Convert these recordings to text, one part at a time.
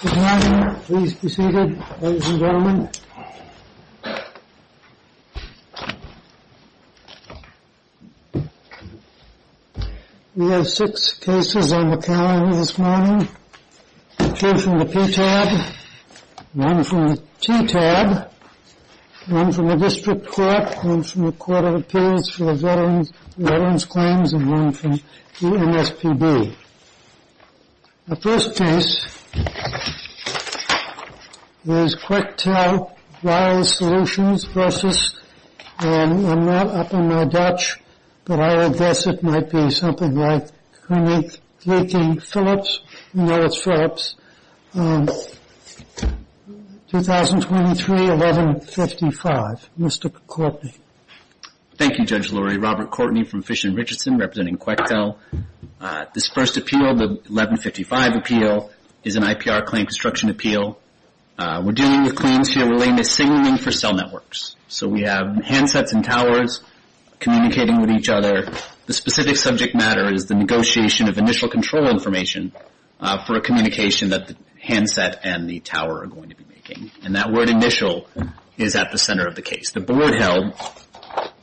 Good morning. Please be seated, ladies and gentlemen. We have six cases on the calendar this morning. Two from the PTAB, one from the TTAB, one from the District Court, one from the Court of Appeals for the Veterans' Claims, and one from EMSPB. The first case is Quectel Wireless Solutions versus, and I'm not up on my Dutch, but I would guess it might be something like Koninklijke Philips. You know it's Philips. 2023-1155. Mr. Courtney. Thank you, Judge Lurie. Robert Courtney from Fish and Richardson representing Quectel. This first appeal, the 1155 appeal, is an IPR claim construction appeal. We're dealing with claims here relating to signaling for cell networks. So we have handsets and towers communicating with each other. The specific subject matter is the negotiation of initial control information for a communication that the handset and the tower are going to be making. And that word initial is at the center of the case. The board held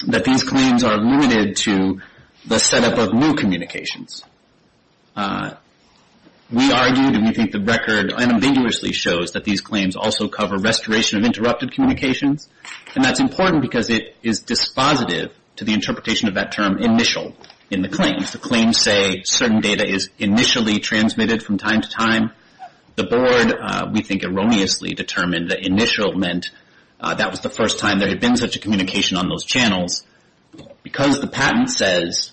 that these claims are limited to the setup of new communications. We argued, and we think the record unambiguously shows, that these claims also cover restoration of interrupted communications, and that's important because it is dispositive to the interpretation of that term initial in the claim. If the claims say certain data is initially transmitted from time to time, the board, we think, erroneously determined that initial meant that was the first time that there had been such a communication on those channels. Because the patent says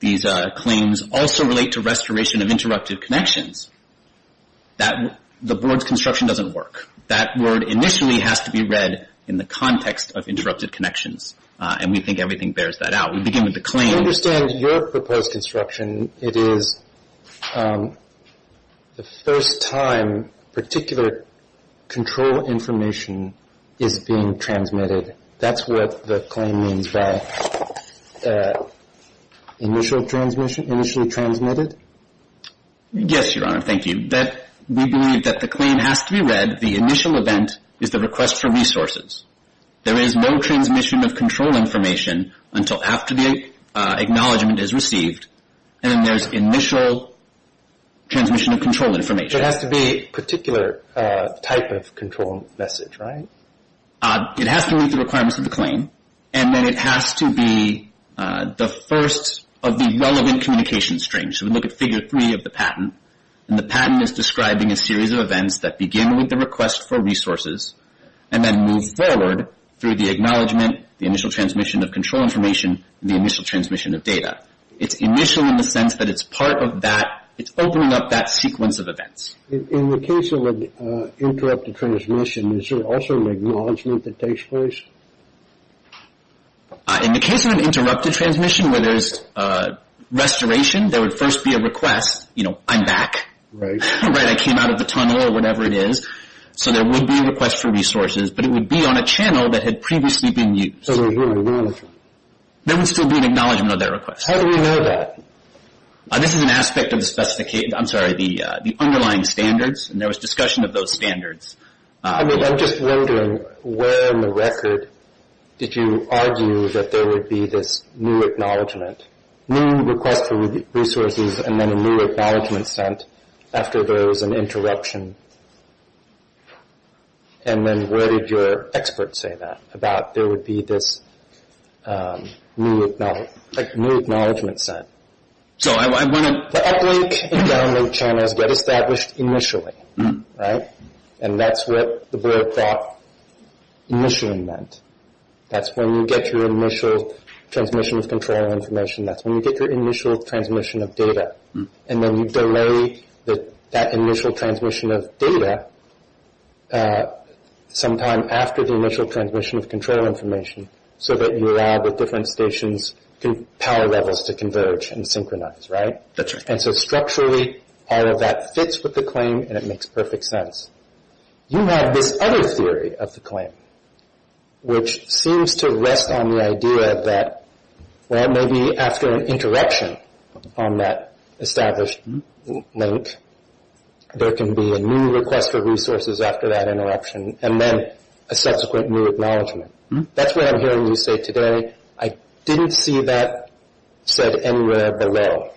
these claims also relate to restoration of interrupted connections, the board's construction doesn't work. That word initially has to be read in the context of interrupted connections, and we think everything bears that out. We begin with the claim. I understand your proposed construction. And it is the first time particular control information is being transmitted. That's what the claim means by initially transmitted? Yes, Your Honor. Thank you. We believe that the claim has to be read. The initial event is the request for resources. There is no transmission of control information until after the acknowledgement is received, and then there's initial transmission of control information. So it has to be a particular type of control message, right? It has to meet the requirements of the claim, and then it has to be the first of the relevant communication strings. So we look at Figure 3 of the patent, and the patent is describing a series of events that begin with the request for resources and then move forward through the acknowledgement, the initial transmission of control information, and the initial transmission of data. It's initial in the sense that it's part of that. It's opening up that sequence of events. In the case of an interrupted transmission, is there also an acknowledgement that takes place? In the case of an interrupted transmission where there's restoration, there would first be a request, you know, I'm back. Right. Right, I came out of the tunnel or whatever it is. So there would be a request for resources, but it would be on a channel that had previously been used. So they're here to leave. There would still be an acknowledgement of that request. How do we know that? This is an aspect of the specification, I'm sorry, the underlying standards, and there was discussion of those standards. I mean, I'm just wondering where in the record did you argue that there would be this new acknowledgement, new request for resources, and then a new acknowledgement sent after there was an interruption? And then where did your expert say that, about there would be this new acknowledgement sent? So I want to – The uplink and download channels get established initially, right? And that's what the bird thought initial meant. That's when you get your initial transmission of control information. That's when you get your initial transmission of data. And then you delay that initial transmission of data sometime after the initial transmission of control information so that you allow the different stations' power levels to converge and synchronize, right? That's right. And so structurally, all of that fits with the claim, and it makes perfect sense. You have this other theory of the claim, which seems to rest on the idea that, well, maybe after an interruption on that established link, there can be a new request for resources after that interruption, and then a subsequent new acknowledgement. That's what I'm hearing you say today. I didn't see that said anywhere below,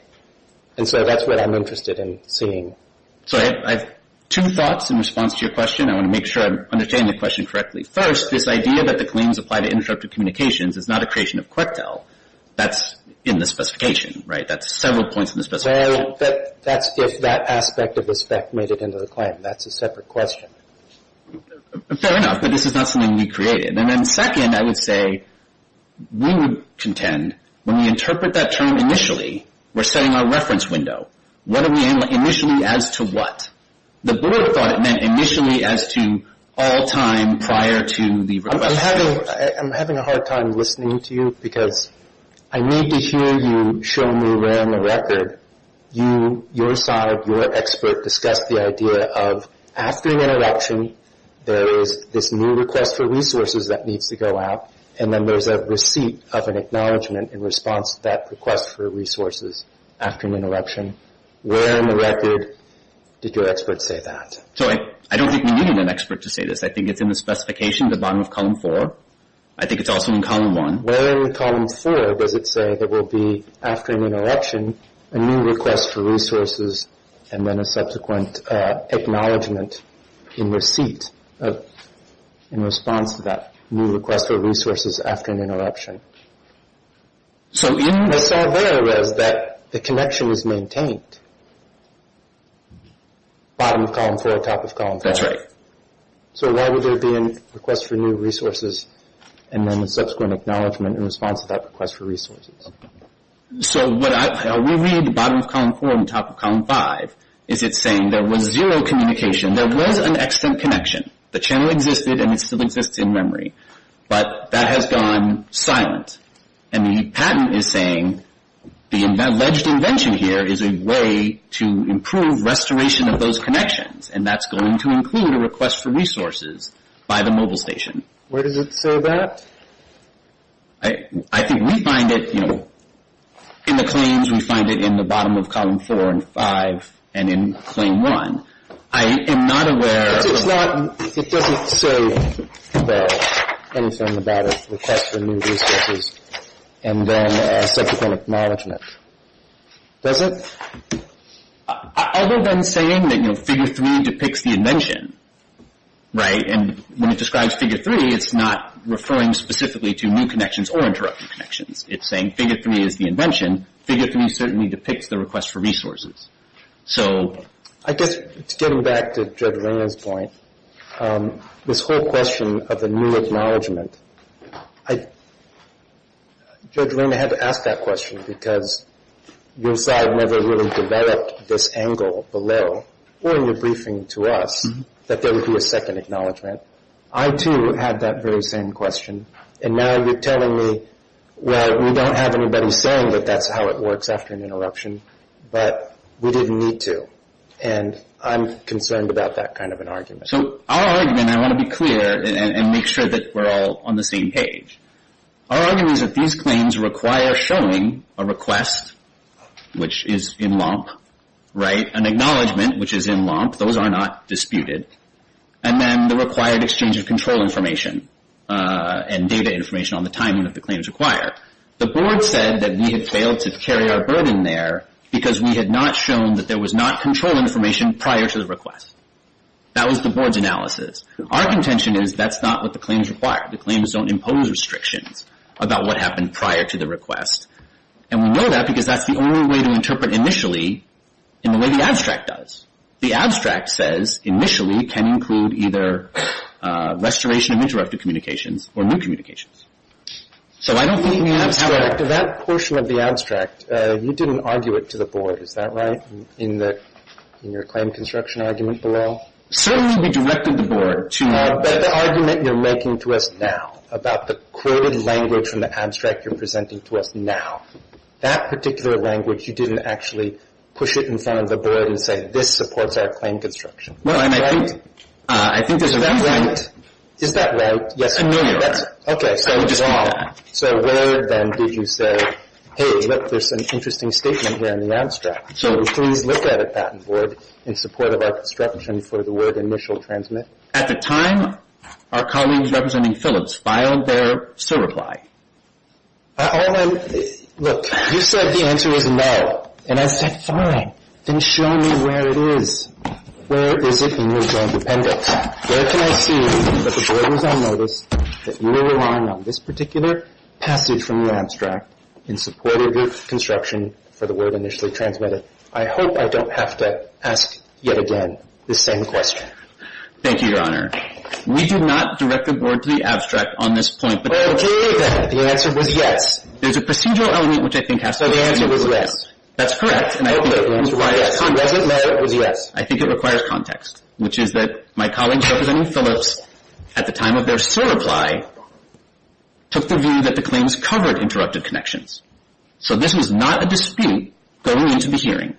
and so that's what I'm interested in seeing. So I have two thoughts in response to your question. I want to make sure I'm understanding the question correctly. First, this idea that the claims apply to interrupted communications is not a creation of QECTEL. That's in the specification, right? That's several points in the specification. That's if that aspect of the spec made it into the claim. That's a separate question. Fair enough, but this is not something we created. And then second, I would say we would contend when we interpret that term initially, we're setting our reference window. What do we mean initially as to what? The board thought it meant initially as to all time prior to the request. I'm having a hard time listening to you because I need to hear you show me around the record. Your side, your expert, discussed the idea of after an interruption, there is this new request for resources that needs to go out, and then there's a receipt of an acknowledgment in response to that request for resources after an interruption. Where in the record did your expert say that? I don't think we needed an expert to say this. I think it's in the specification at the bottom of Column 4. I think it's also in Column 1. Where in Column 4 does it say there will be, after an interruption, a new request for resources after an interruption? I saw there it was that the connection was maintained, bottom of Column 4, top of Column 5. That's right. So why would there be a request for new resources and then a subsequent acknowledgment in response to that request for resources? So what we read at the bottom of Column 4 and top of Column 5 is it's saying there was zero communication. There was an extant connection. The channel existed and it still exists in memory. But that has gone silent. And the patent is saying the alleged invention here is a way to improve restoration of those connections, and that's going to include a request for resources by the mobile station. Where does it say that? I think we find it in the claims. We find it in the bottom of Column 4 and 5 and in Claim 1. I am not aware. It doesn't say anything about a request for new resources and then a subsequent acknowledgment, does it? Other than saying that, you know, Figure 3 depicts the invention, right? And when it describes Figure 3, it's not referring specifically to new connections or interrupted connections. It's saying Figure 3 is the invention. Figure 3 certainly depicts the request for resources. So I guess getting back to Judge Reyna's point, this whole question of the new acknowledgment, Judge Reyna had to ask that question because your side never really developed this angle below or in your briefing to us that there would be a second acknowledgment. I, too, had that very same question. And now you're telling me, well, we don't have anybody saying that that's how it works after an interruption, but we didn't need to, and I'm concerned about that kind of an argument. So our argument, and I want to be clear and make sure that we're all on the same page, our argument is that these claims require showing a request, which is in lump, right? An acknowledgment, which is in lump. Those are not disputed. And then the required exchange of control information and data information on the timing of the claims required. The Board said that we had failed to carry our burden there because we had not shown that there was not control information prior to the request. That was the Board's analysis. Our contention is that's not what the claims require. The claims don't impose restrictions about what happened prior to the request. And we know that because that's the only way to interpret initially in the way the abstract does. The abstract says initially can include either restoration of interrupted communications or new communications. So I don't think we have to have that. That portion of the abstract, you didn't argue it to the Board. Is that right, in your claim construction argument below? Certainly we directed the Board to argue it. But the argument you're making to us now about the coded language from the abstract you're presenting to us now, that particular language you didn't actually push it in front of the Board and say, this supports our claim construction, right? I think there's a point. Is that right? Yes. That's familiar. Okay. So where then did you say, hey, look, there's an interesting statement here in the abstract. So please look at it that way in support of our construction for the word initial transmit. At the time, our colleagues representing Phillips filed their reply. Look, you said the answer is no. And I said, fine. Then show me where it is. Where is it in your joint appendix? Where can I see that the Board was on notice that you were relying on this particular passage from the abstract in support of your construction for the word initially transmitted? I hope I don't have to ask yet again this same question. Thank you, Your Honor. We do not direct the Board to the abstract on this point. Okay, then. The answer was yes. There's a procedural element which I think has to be included. So the answer was yes. That's correct. And I think it requires context. The answer was yes. I think it requires context, which is that my colleagues representing Phillips, at the time of their sole reply, took the view that the claims covered interrupted connections. So this was not a dispute going into the hearing.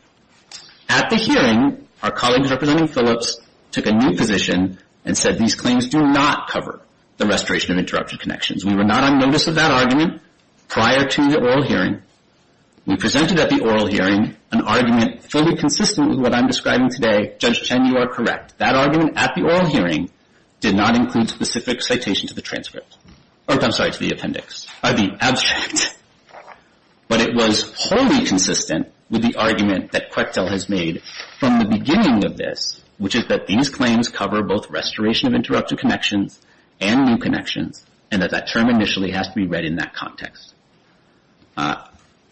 At the hearing, our colleagues representing Phillips took a new position and said these claims do not cover the restoration of interrupted connections. We were not on notice of that argument prior to the oral hearing. We presented at the oral hearing an argument fully consistent with what I'm describing today. Judge Chen, you are correct. That argument at the oral hearing did not include specific citation to the transcript. I'm sorry, to the appendix. Or the abstract. But it was wholly consistent with the argument that Quechtel has made from the beginning of this, which is that these claims cover both restoration of interrupted connections and new connections and that that term initially has to be read in that context.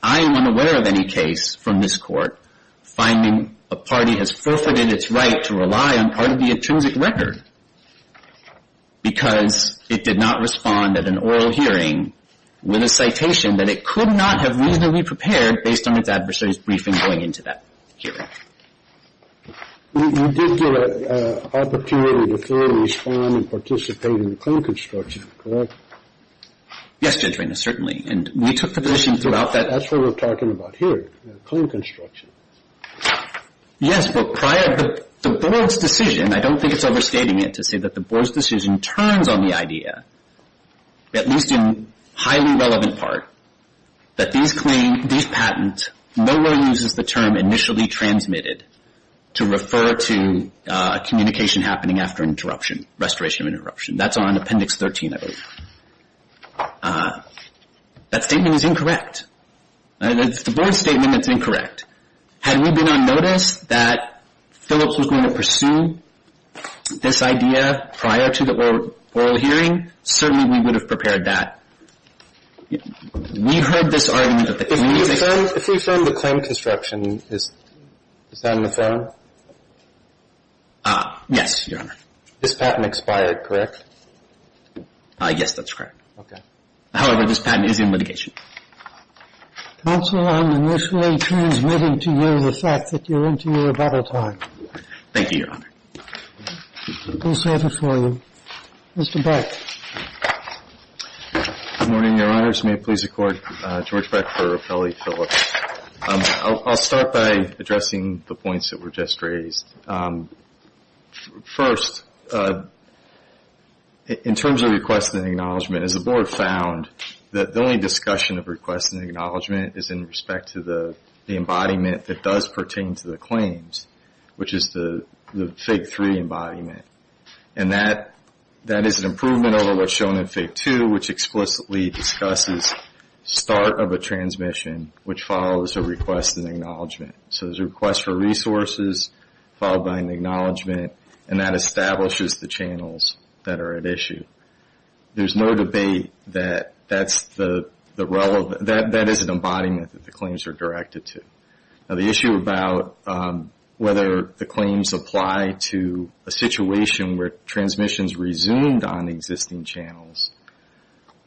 I am unaware of any case from this Court finding a party has forfeited its right to rely on part of the intrinsic record because it did not respond at an oral hearing with a citation that it could not have reasonably prepared based on its adversary's briefing going into that hearing. You did get an opportunity to clearly respond and participate in the claim construction, correct? Yes, Judge Reynolds, certainly. And we took the position throughout that. That's what we're talking about here, claim construction. Yes, but prior to the Board's decision, I don't think it's overstating it to say that the Board's decision turns on the idea, at least in highly relevant part, that these patents, no one uses the term initially transmitted to refer to communication happening after interruption, restoration of interruption. That's on Appendix 13, I believe. That statement is incorrect. It's the Board's statement that's incorrect. Had we been on notice that Phillips was going to pursue this idea prior to the oral hearing, certainly we would have prepared that. We heard this argument at the hearing. If we found the claim construction, is that on the phone? Yes, Your Honor. This patent expired, correct? Yes, that's correct. Okay. However, this patent is in litigation. Counsel, I'm initially transmitting to you the fact that you're into your battle time. Thank you, Your Honor. We'll serve it for you. Mr. Beck. Good morning, Your Honors. May it please the Court. George Beck for Appellee Phillips. I'll start by addressing the points that were just raised. First, in terms of requests and acknowledgment, as the Board found that the only discussion of requests and acknowledgement is in respect to the embodiment that does pertain to the claims, which is the Fig. 3 embodiment. And that is an improvement over what's shown in Fig. 2, which explicitly discusses start of a transmission, which follows a request and acknowledgment. So there's a request for resources, followed by an acknowledgment, and that establishes the channels that are at issue. There's no debate that that is an embodiment that the claims are directed to. Now, the issue about whether the claims apply to a situation where transmissions resumed on existing channels,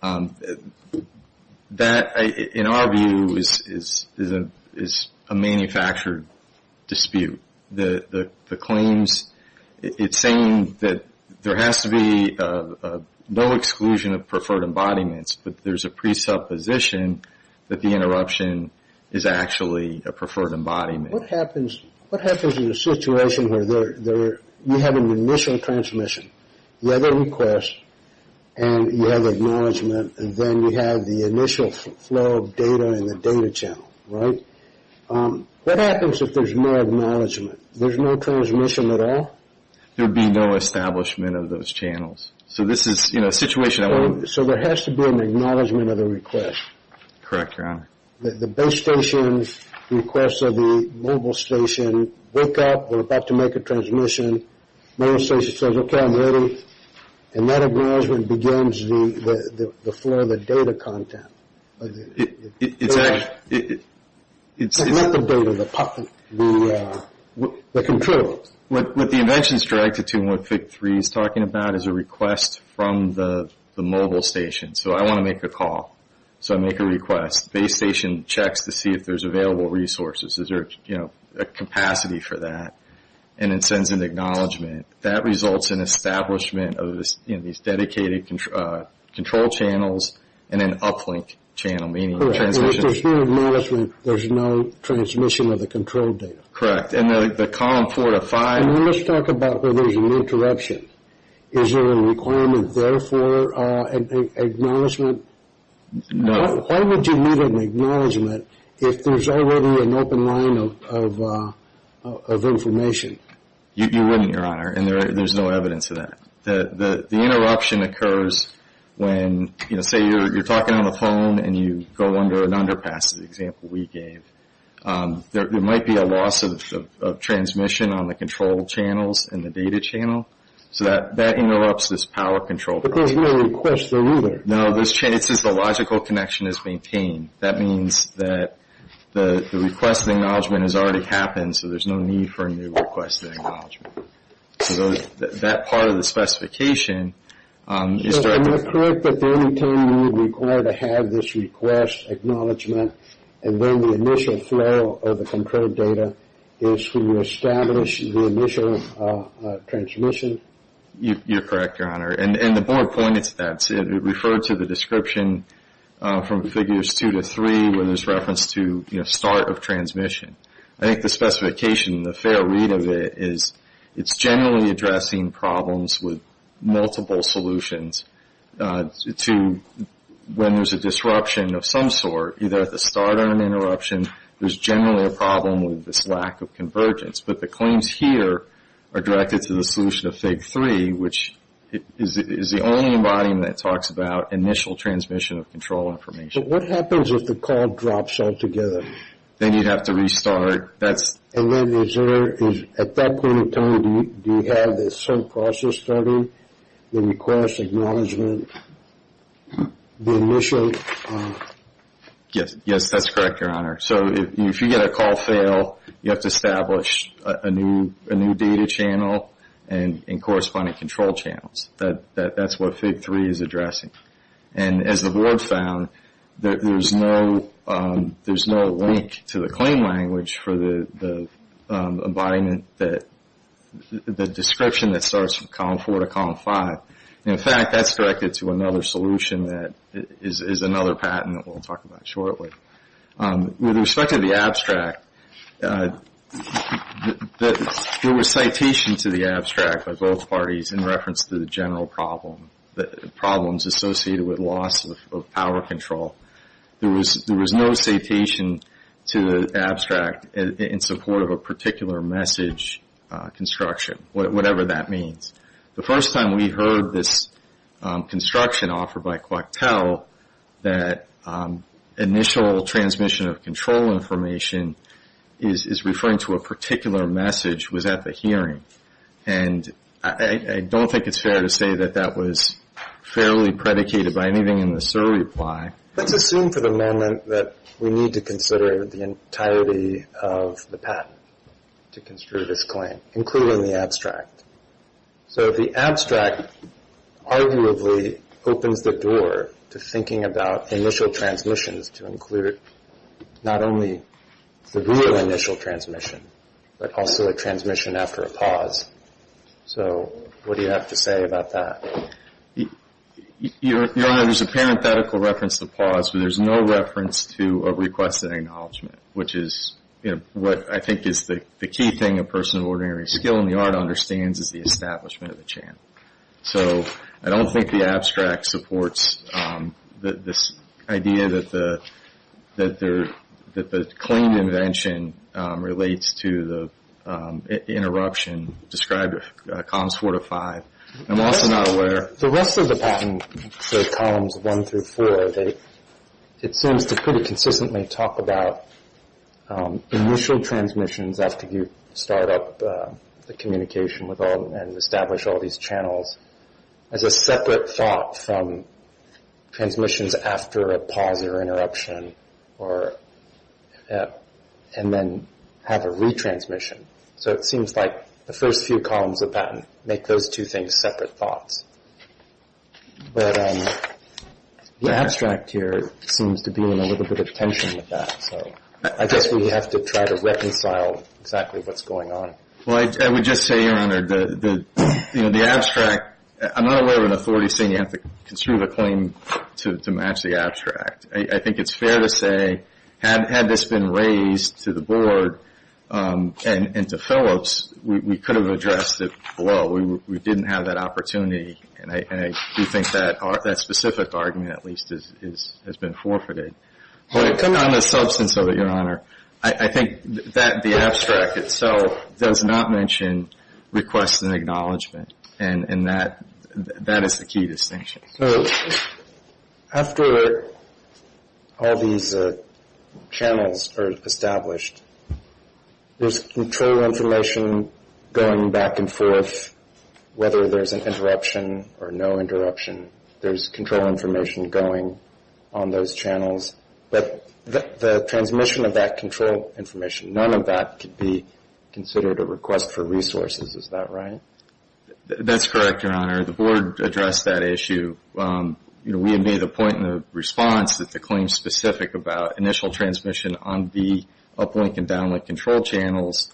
that, in our view, is a manufactured dispute. The claims, it's saying that there has to be no exclusion of preferred embodiments, but there's a presupposition that the interruption is actually a preferred embodiment. What happens in a situation where you have an initial transmission, you have a request, and you have acknowledgment, and then you have the initial flow of data in the data channel, right? What happens if there's no acknowledgment, there's no transmission at all? There would be no establishment of those channels. So there has to be an acknowledgment of the request. Correct, Your Honor. The base station's request of the mobile station, wake up, we're about to make a transmission. Mobile station says, okay, I'm ready, and that acknowledgment begins the flow of the data content. It's not the data, the control. What the invention's directed to and what FIC-3 is talking about is a request from the mobile station. So I want to make a call, so I make a request. Base station checks to see if there's available resources, is there a capacity for that, and it sends an acknowledgment. That results in establishment of these dedicated control channels and an uplink channel, meaning transmission. If there's no acknowledgment, there's no transmission of the control data. Correct. In the column four to five. Let's talk about where there's an interruption. Is there a requirement there for an acknowledgment? No. Why would you need an acknowledgment if there's already an open line of information? You wouldn't, Your Honor, and there's no evidence of that. The interruption occurs when, say, you're talking on the phone and you go under an underpass, as the example we gave. There might be a loss of transmission on the control channels and the data channel. So that interrupts this power control. But there's no request there either. No. It says the logical connection is maintained. That means that the request of acknowledgment has already happened, so there's no need for a new request of acknowledgment. So that part of the specification is directed. And you're correct that the only time you would require to have this request acknowledgment and then the initial flow of the control data is when you establish the initial transmission? You're correct, Your Honor, and the board pointed to that. It referred to the description from figures two to three where there's reference to start of transmission. I think the specification and the fair read of it is it's generally addressing problems with multiple solutions to when there's a disruption of some sort, either at the start or an interruption, there's generally a problem with this lack of convergence. But the claims here are directed to the solution of fig three, which is the only embodiment that talks about initial transmission of control information. But what happens if the call drops altogether? Then you'd have to restart. At that point in time, do you have the sub-process study, the request of acknowledgment, the initial? Yes, that's correct, Your Honor. So if you get a call fail, you have to establish a new data channel and corresponding control channels. That's what fig three is addressing. And as the board found, there's no link to the claim language for the embodiment, the description that starts from column four to column five. In fact, that's directed to another solution that is another patent that we'll talk about shortly. With respect to the abstract, there was citation to the abstract by both parties in reference to the general problem. Problems associated with loss of power control. There was no citation to the abstract in support of a particular message construction, whatever that means. The first time we heard this construction offered by Coctel, that initial transmission of control information is referring to a particular message, was at the hearing. And I don't think it's fair to say that that was fairly predicated by anything in the SIR reply. Let's assume for the moment that we need to consider the entirety of the patent to construe this claim, including the abstract. So the abstract arguably opens the door to thinking about initial transmissions to include not only the real initial transmission, but also a transmission after a pause. So what do you have to say about that? Your Honor, there's a parenthetical reference to pause, but there's no reference to a request of acknowledgement, which is what I think is the key thing a person of ordinary skill in the art understands is the establishment of a channel. So I don't think the abstract supports this idea that the claimed invention relates to the interruption described in columns 4 to 5. I'm also not aware... The rest of the patent, say columns 1 through 4, it seems to pretty consistently talk about initial transmissions after you start up the communication and establish all these channels as a separate thought from transmissions after a pause or interruption, and then have a retransmission. So it seems like the first few columns of the patent make those two things separate thoughts. But the abstract here seems to be in a little bit of tension with that. So I guess we have to try to reconcile exactly what's going on. Well, I would just say, Your Honor, the abstract... I'm not aware of an authority saying you have to construe the claim to match the abstract. I think it's fair to say had this been raised to the Board and to Phillips, we could have addressed it below. We didn't have that opportunity, and I do think that specific argument at least has been forfeited. Well, to come down to the substance of it, Your Honor, I think that the abstract itself does not mention requests and acknowledgment, and that is the key distinction. So after all these channels are established, there's control information going back and forth, whether there's an interruption or no interruption. There's control information going on those channels. But the transmission of that control information, none of that could be considered a request for resources. Is that right? That's correct, Your Honor. The Board addressed that issue. We made a point in the response that the claim is specific about initial transmission on the uplink and downlink control channels.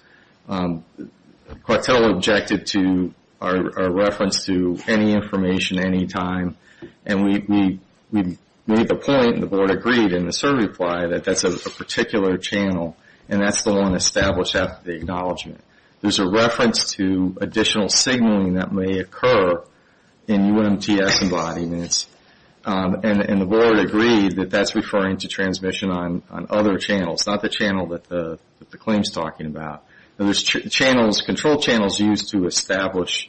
Quattel objected to our reference to any information, any time, and we made the point and the Board agreed in the survey reply that that's a particular channel, and that's the one established after the acknowledgment. There's a reference to additional signaling that may occur in UMTS embodiments, and the Board agreed that that's referring to transmission on other channels, not the channel that the claim is talking about. There's control channels used to establish,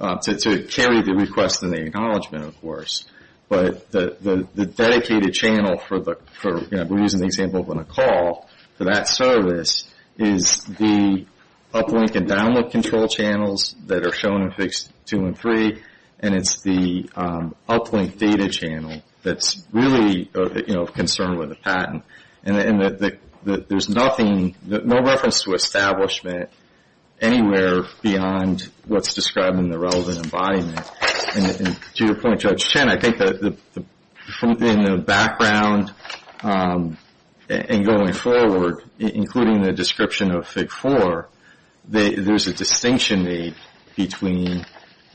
to carry the request and the acknowledgment, of course. But the dedicated channel, we're using the example of a call for that service, is the uplink and downlink control channels that are shown in Figures 2 and 3, and it's the uplink data channel that's really of concern with the patent. And there's no reference to establishment anywhere beyond what's described in the relevant embodiment. And to your point, Judge Chen, I think in the background and going forward, including the description of Fig 4, there's a distinction made between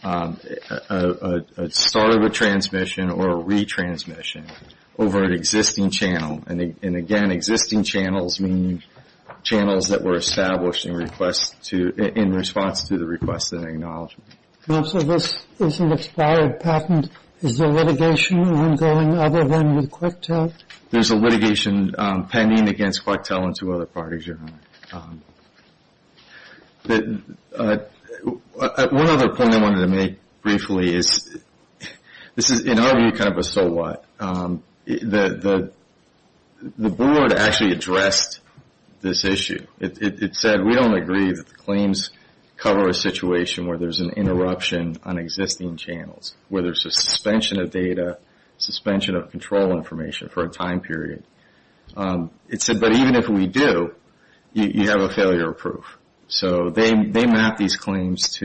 a start of a transmission or a retransmission over an existing channel. And again, existing channels mean channels that were established in response to the request and acknowledgment. Also, this is an expired patent. Is there litigation ongoing other than with Quetel? There's a litigation pending against Quetel and two other parties, Your Honor. One other point I wanted to make briefly is this is, in our view, kind of a so what. The board actually addressed this issue. It said, we don't agree that the claims cover a situation where there's an interruption on existing channels, where there's a suspension of data, suspension of control information for a time period. It said, but even if we do, you have a failure of proof. So they mapped these claims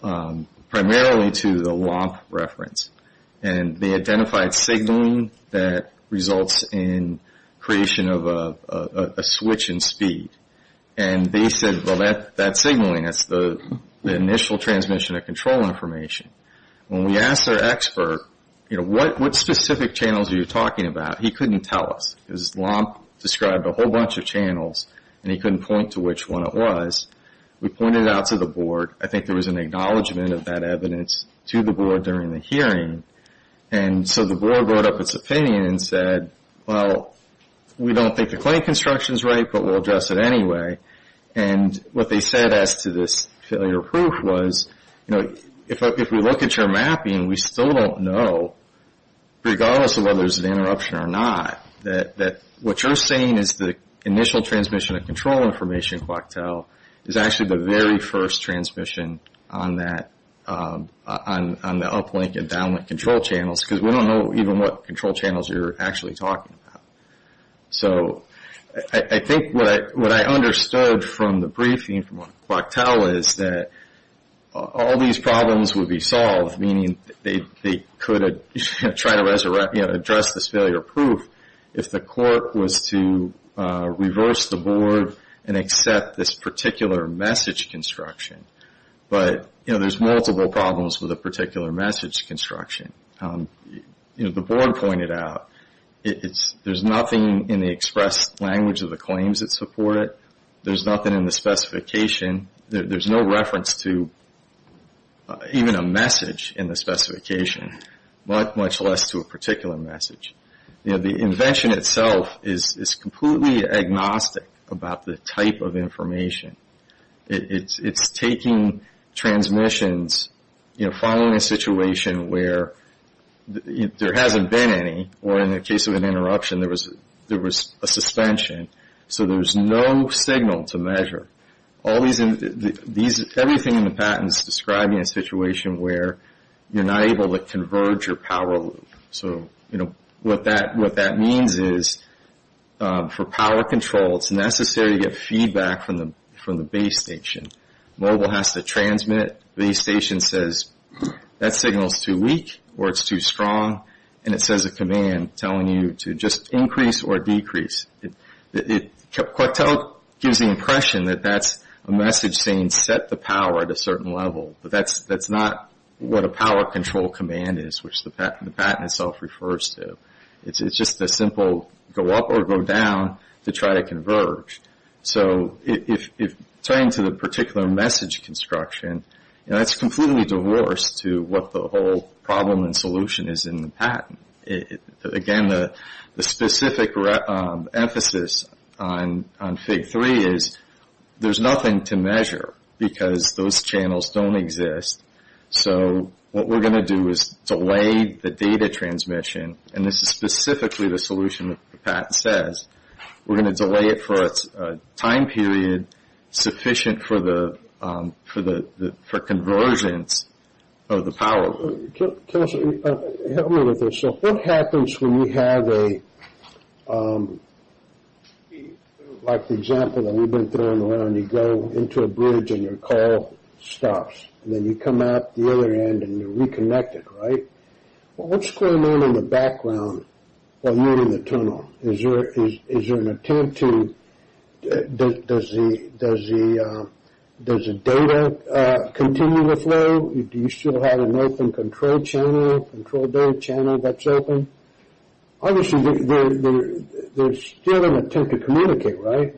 primarily to the LOMP reference. And they identified signaling that results in creation of a switch in speed. And they said, well, that signaling, that's the initial transmission of control information. When we asked our expert, you know, what specific channels are you talking about, he couldn't tell us. His LOMP described a whole bunch of channels, and he couldn't point to which one it was. We pointed it out to the board. I think there was an acknowledgment of that evidence to the board during the hearing. And so the board wrote up its opinion and said, well, we don't think the claim construction is right, but we'll address it anyway. And what they said as to this failure of proof was, you know, if we look at your mapping, we still don't know, regardless of whether there's an interruption or not, that what you're saying is the initial transmission of control information, Coctel, is actually the very first transmission on the uplink and downlink control channels, because we don't know even what control channels you're actually talking about. So I think what I understood from the briefing from Coctel is that all these problems would be solved, meaning they could try to address this failure of proof, if the court was to reverse the board and accept this particular message construction. But, you know, there's multiple problems with a particular message construction. You know, the board pointed out there's nothing in the express language of the claims that support it. There's nothing in the specification. There's no reference to even a message in the specification, much less to a particular message. You know, the invention itself is completely agnostic about the type of information. It's taking transmissions, you know, following a situation where there hasn't been any, or in the case of an interruption, there was a suspension. So there's no signal to measure. Everything in the patent is describing a situation where you're not able to converge your power loop. So, you know, what that means is for power control, it's necessary to get feedback from the base station. Mobile has to transmit. Base station says that signal is too weak or it's too strong, and it says a command telling you to just increase or decrease. Quartel gives the impression that that's a message saying set the power at a certain level, but that's not what a power control command is, which the patent itself refers to. It's just a simple go up or go down to try to converge. So if it's referring to the particular message construction, you know, that's completely divorced to what the whole problem and solution is in the patent. Again, the specific emphasis on Fig. 3 is there's nothing to measure because those channels don't exist. So what we're going to do is delay the data transmission, and this is specifically the solution that the patent says. We're going to delay it for a time period sufficient for conversions of the power. So what happens when you have a, like the example that we've been throwing around, you go into a bridge and your call stops, and then you come out the other end and you're reconnected, right? What's going on in the background while you're in the tunnel? Is there an attempt to, does the data continue to flow? Do you still have an open control channel, control data channel that's open? Obviously, there's still an attempt to communicate, right?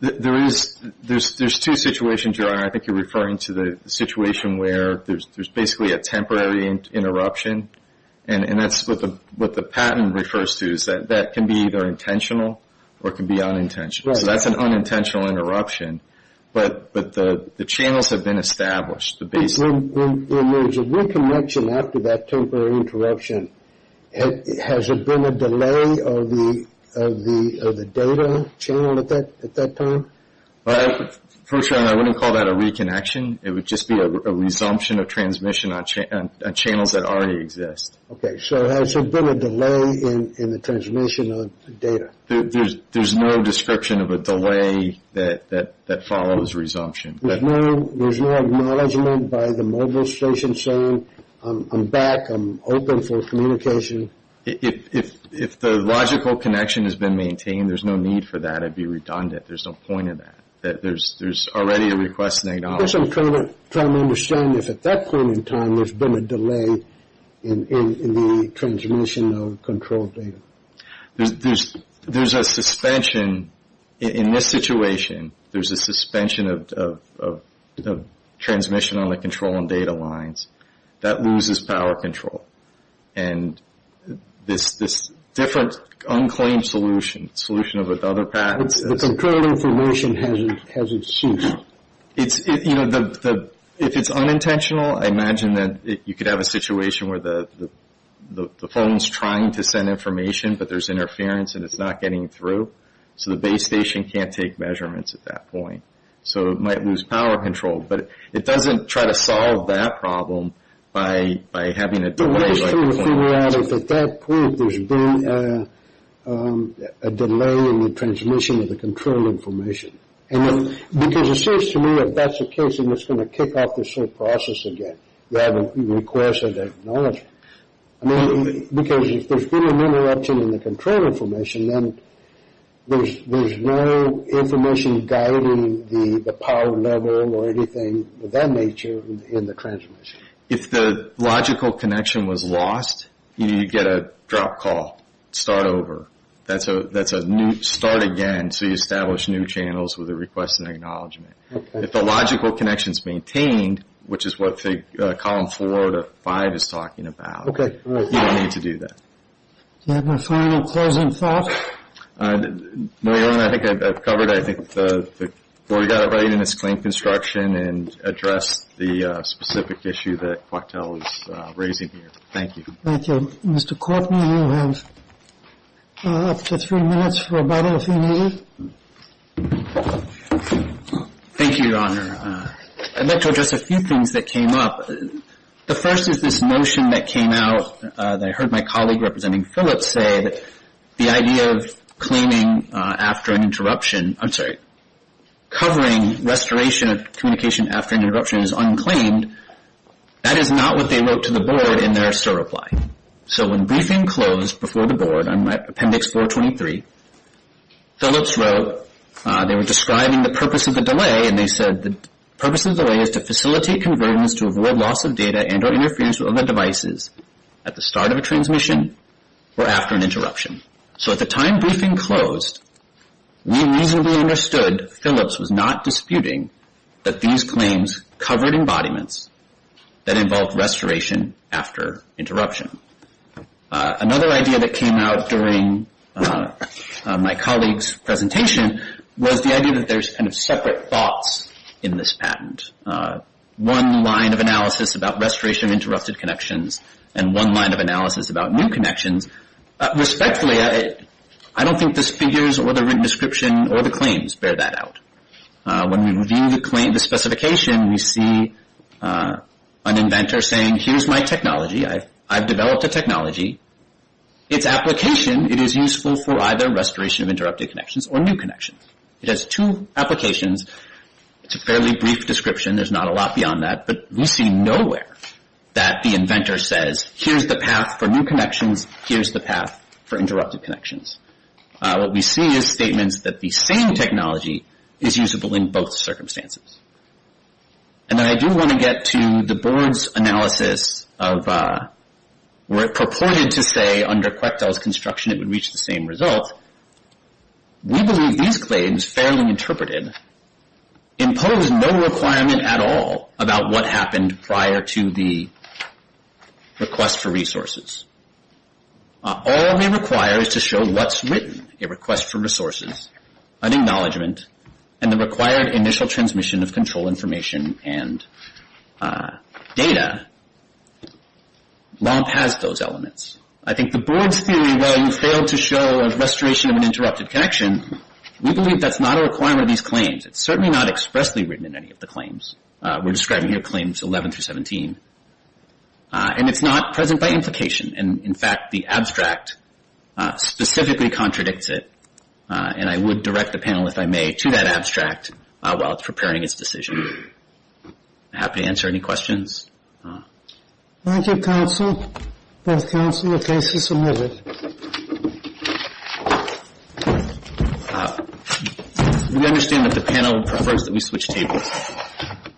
There's two situations, your honor. I think you're referring to the situation where there's basically a temporary interruption, and that's what the patent refers to is that that can be either intentional or it can be unintentional. So that's an unintentional interruption, but the channels have been established. In other words, a reconnection after that temporary interruption, has there been a delay of the data channel at that time? First of all, I wouldn't call that a reconnection. It would just be a resumption of transmission on channels that already exist. Okay, so has there been a delay in the transmission of data? There's no description of a delay that follows resumption. There's no acknowledgement by the mobile station saying, I'm back, I'm open for communication? If the logical connection has been maintained, there's no need for that. It would be redundant. There's no point in that. There's already a request and acknowledgement. I'm just trying to understand if at that point in time, there's been a delay in the transmission of controlled data. There's a suspension. In this situation, there's a suspension of transmission on the control and data lines. That loses power control. And this different unclaimed solution, solution with other patents. The control information hasn't ceased. If it's unintentional, I imagine that you could have a situation where the phone is trying to send information, but there's interference and it's not getting through. So the base station can't take measurements at that point. So it might lose power control. But it doesn't try to solve that problem by having a delay. I'm just trying to figure out if at that point, there's been a delay in the transmission of the control information. Because it seems to me if that's the case, then it's going to kick off the same process again. You have a request and acknowledgement. Because if there's been an interruption in the control information, then there's no information guiding the power level or anything of that nature in the transmission. If the logical connection was lost, you get a drop call. Start over. That's a new start again. So you establish new channels with a request and acknowledgement. If the logical connection is maintained, which is what column four to five is talking about, you don't need to do that. Do you have a final closing thought? No, I think I've covered it. I think the Court got it right in its claim construction and addressed the specific issue that Coictel is raising here. Thank you. Thank you. Mr. Courtney, you have up to three minutes for a Bible theme meeting. Thank you, Your Honor. I'd like to address a few things that came up. The first is this notion that came out that I heard my colleague representing Phillips say, that the idea of claiming after an interruption, I'm sorry, covering restoration of communication after an interruption is unclaimed. That is not what they wrote to the Board in their SOAR reply. So when briefing closed before the Board on Appendix 423, Phillips wrote, they were describing the purpose of the delay, and they said the purpose of the delay is to facilitate convergence to avoid loss of data and or interference with other devices at the start of a transmission or after an interruption. So at the time briefing closed, we reasonably understood Phillips was not disputing that these claims covered embodiments that involved restoration after interruption. Another idea that came out during my colleague's presentation was the idea that there's kind of separate thoughts in this patent. One line of analysis about restoration of interrupted connections and one line of analysis about new connections. Respectfully, I don't think the figures or the written description or the claims bear that out. When we review the specification, we see an inventor saying, here's my technology. I've developed a technology. Its application, it is useful for either restoration of interrupted connections or new connections. It has two applications. It's a fairly brief description. There's not a lot beyond that. But we see nowhere that the inventor says, here's the path for new connections. Here's the path for interrupted connections. What we see is statements that the same technology is usable in both circumstances. And I do want to get to the Board's analysis of where it purported to say under Quetel's construction it would reach the same result. We believe these claims, fairly interpreted, impose no requirement at all about what happened prior to the request for resources. All they require is to show what's written. A request for resources, an acknowledgment, and the required initial transmission of control information and data. LOMP has those elements. I think the Board's theory, while you failed to show a restoration of an interrupted connection, we believe that's not a requirement of these claims. It's certainly not expressly written in any of the claims. We're describing here claims 11 through 17. And it's not present by implication. And, in fact, the abstract specifically contradicts it. And I would direct the panel, if I may, to that abstract while it's preparing its decision. Happy to answer any questions. Thank you, Counsel. Both Counsel, your case is submitted. We understand that the panel prefers that we switch tables.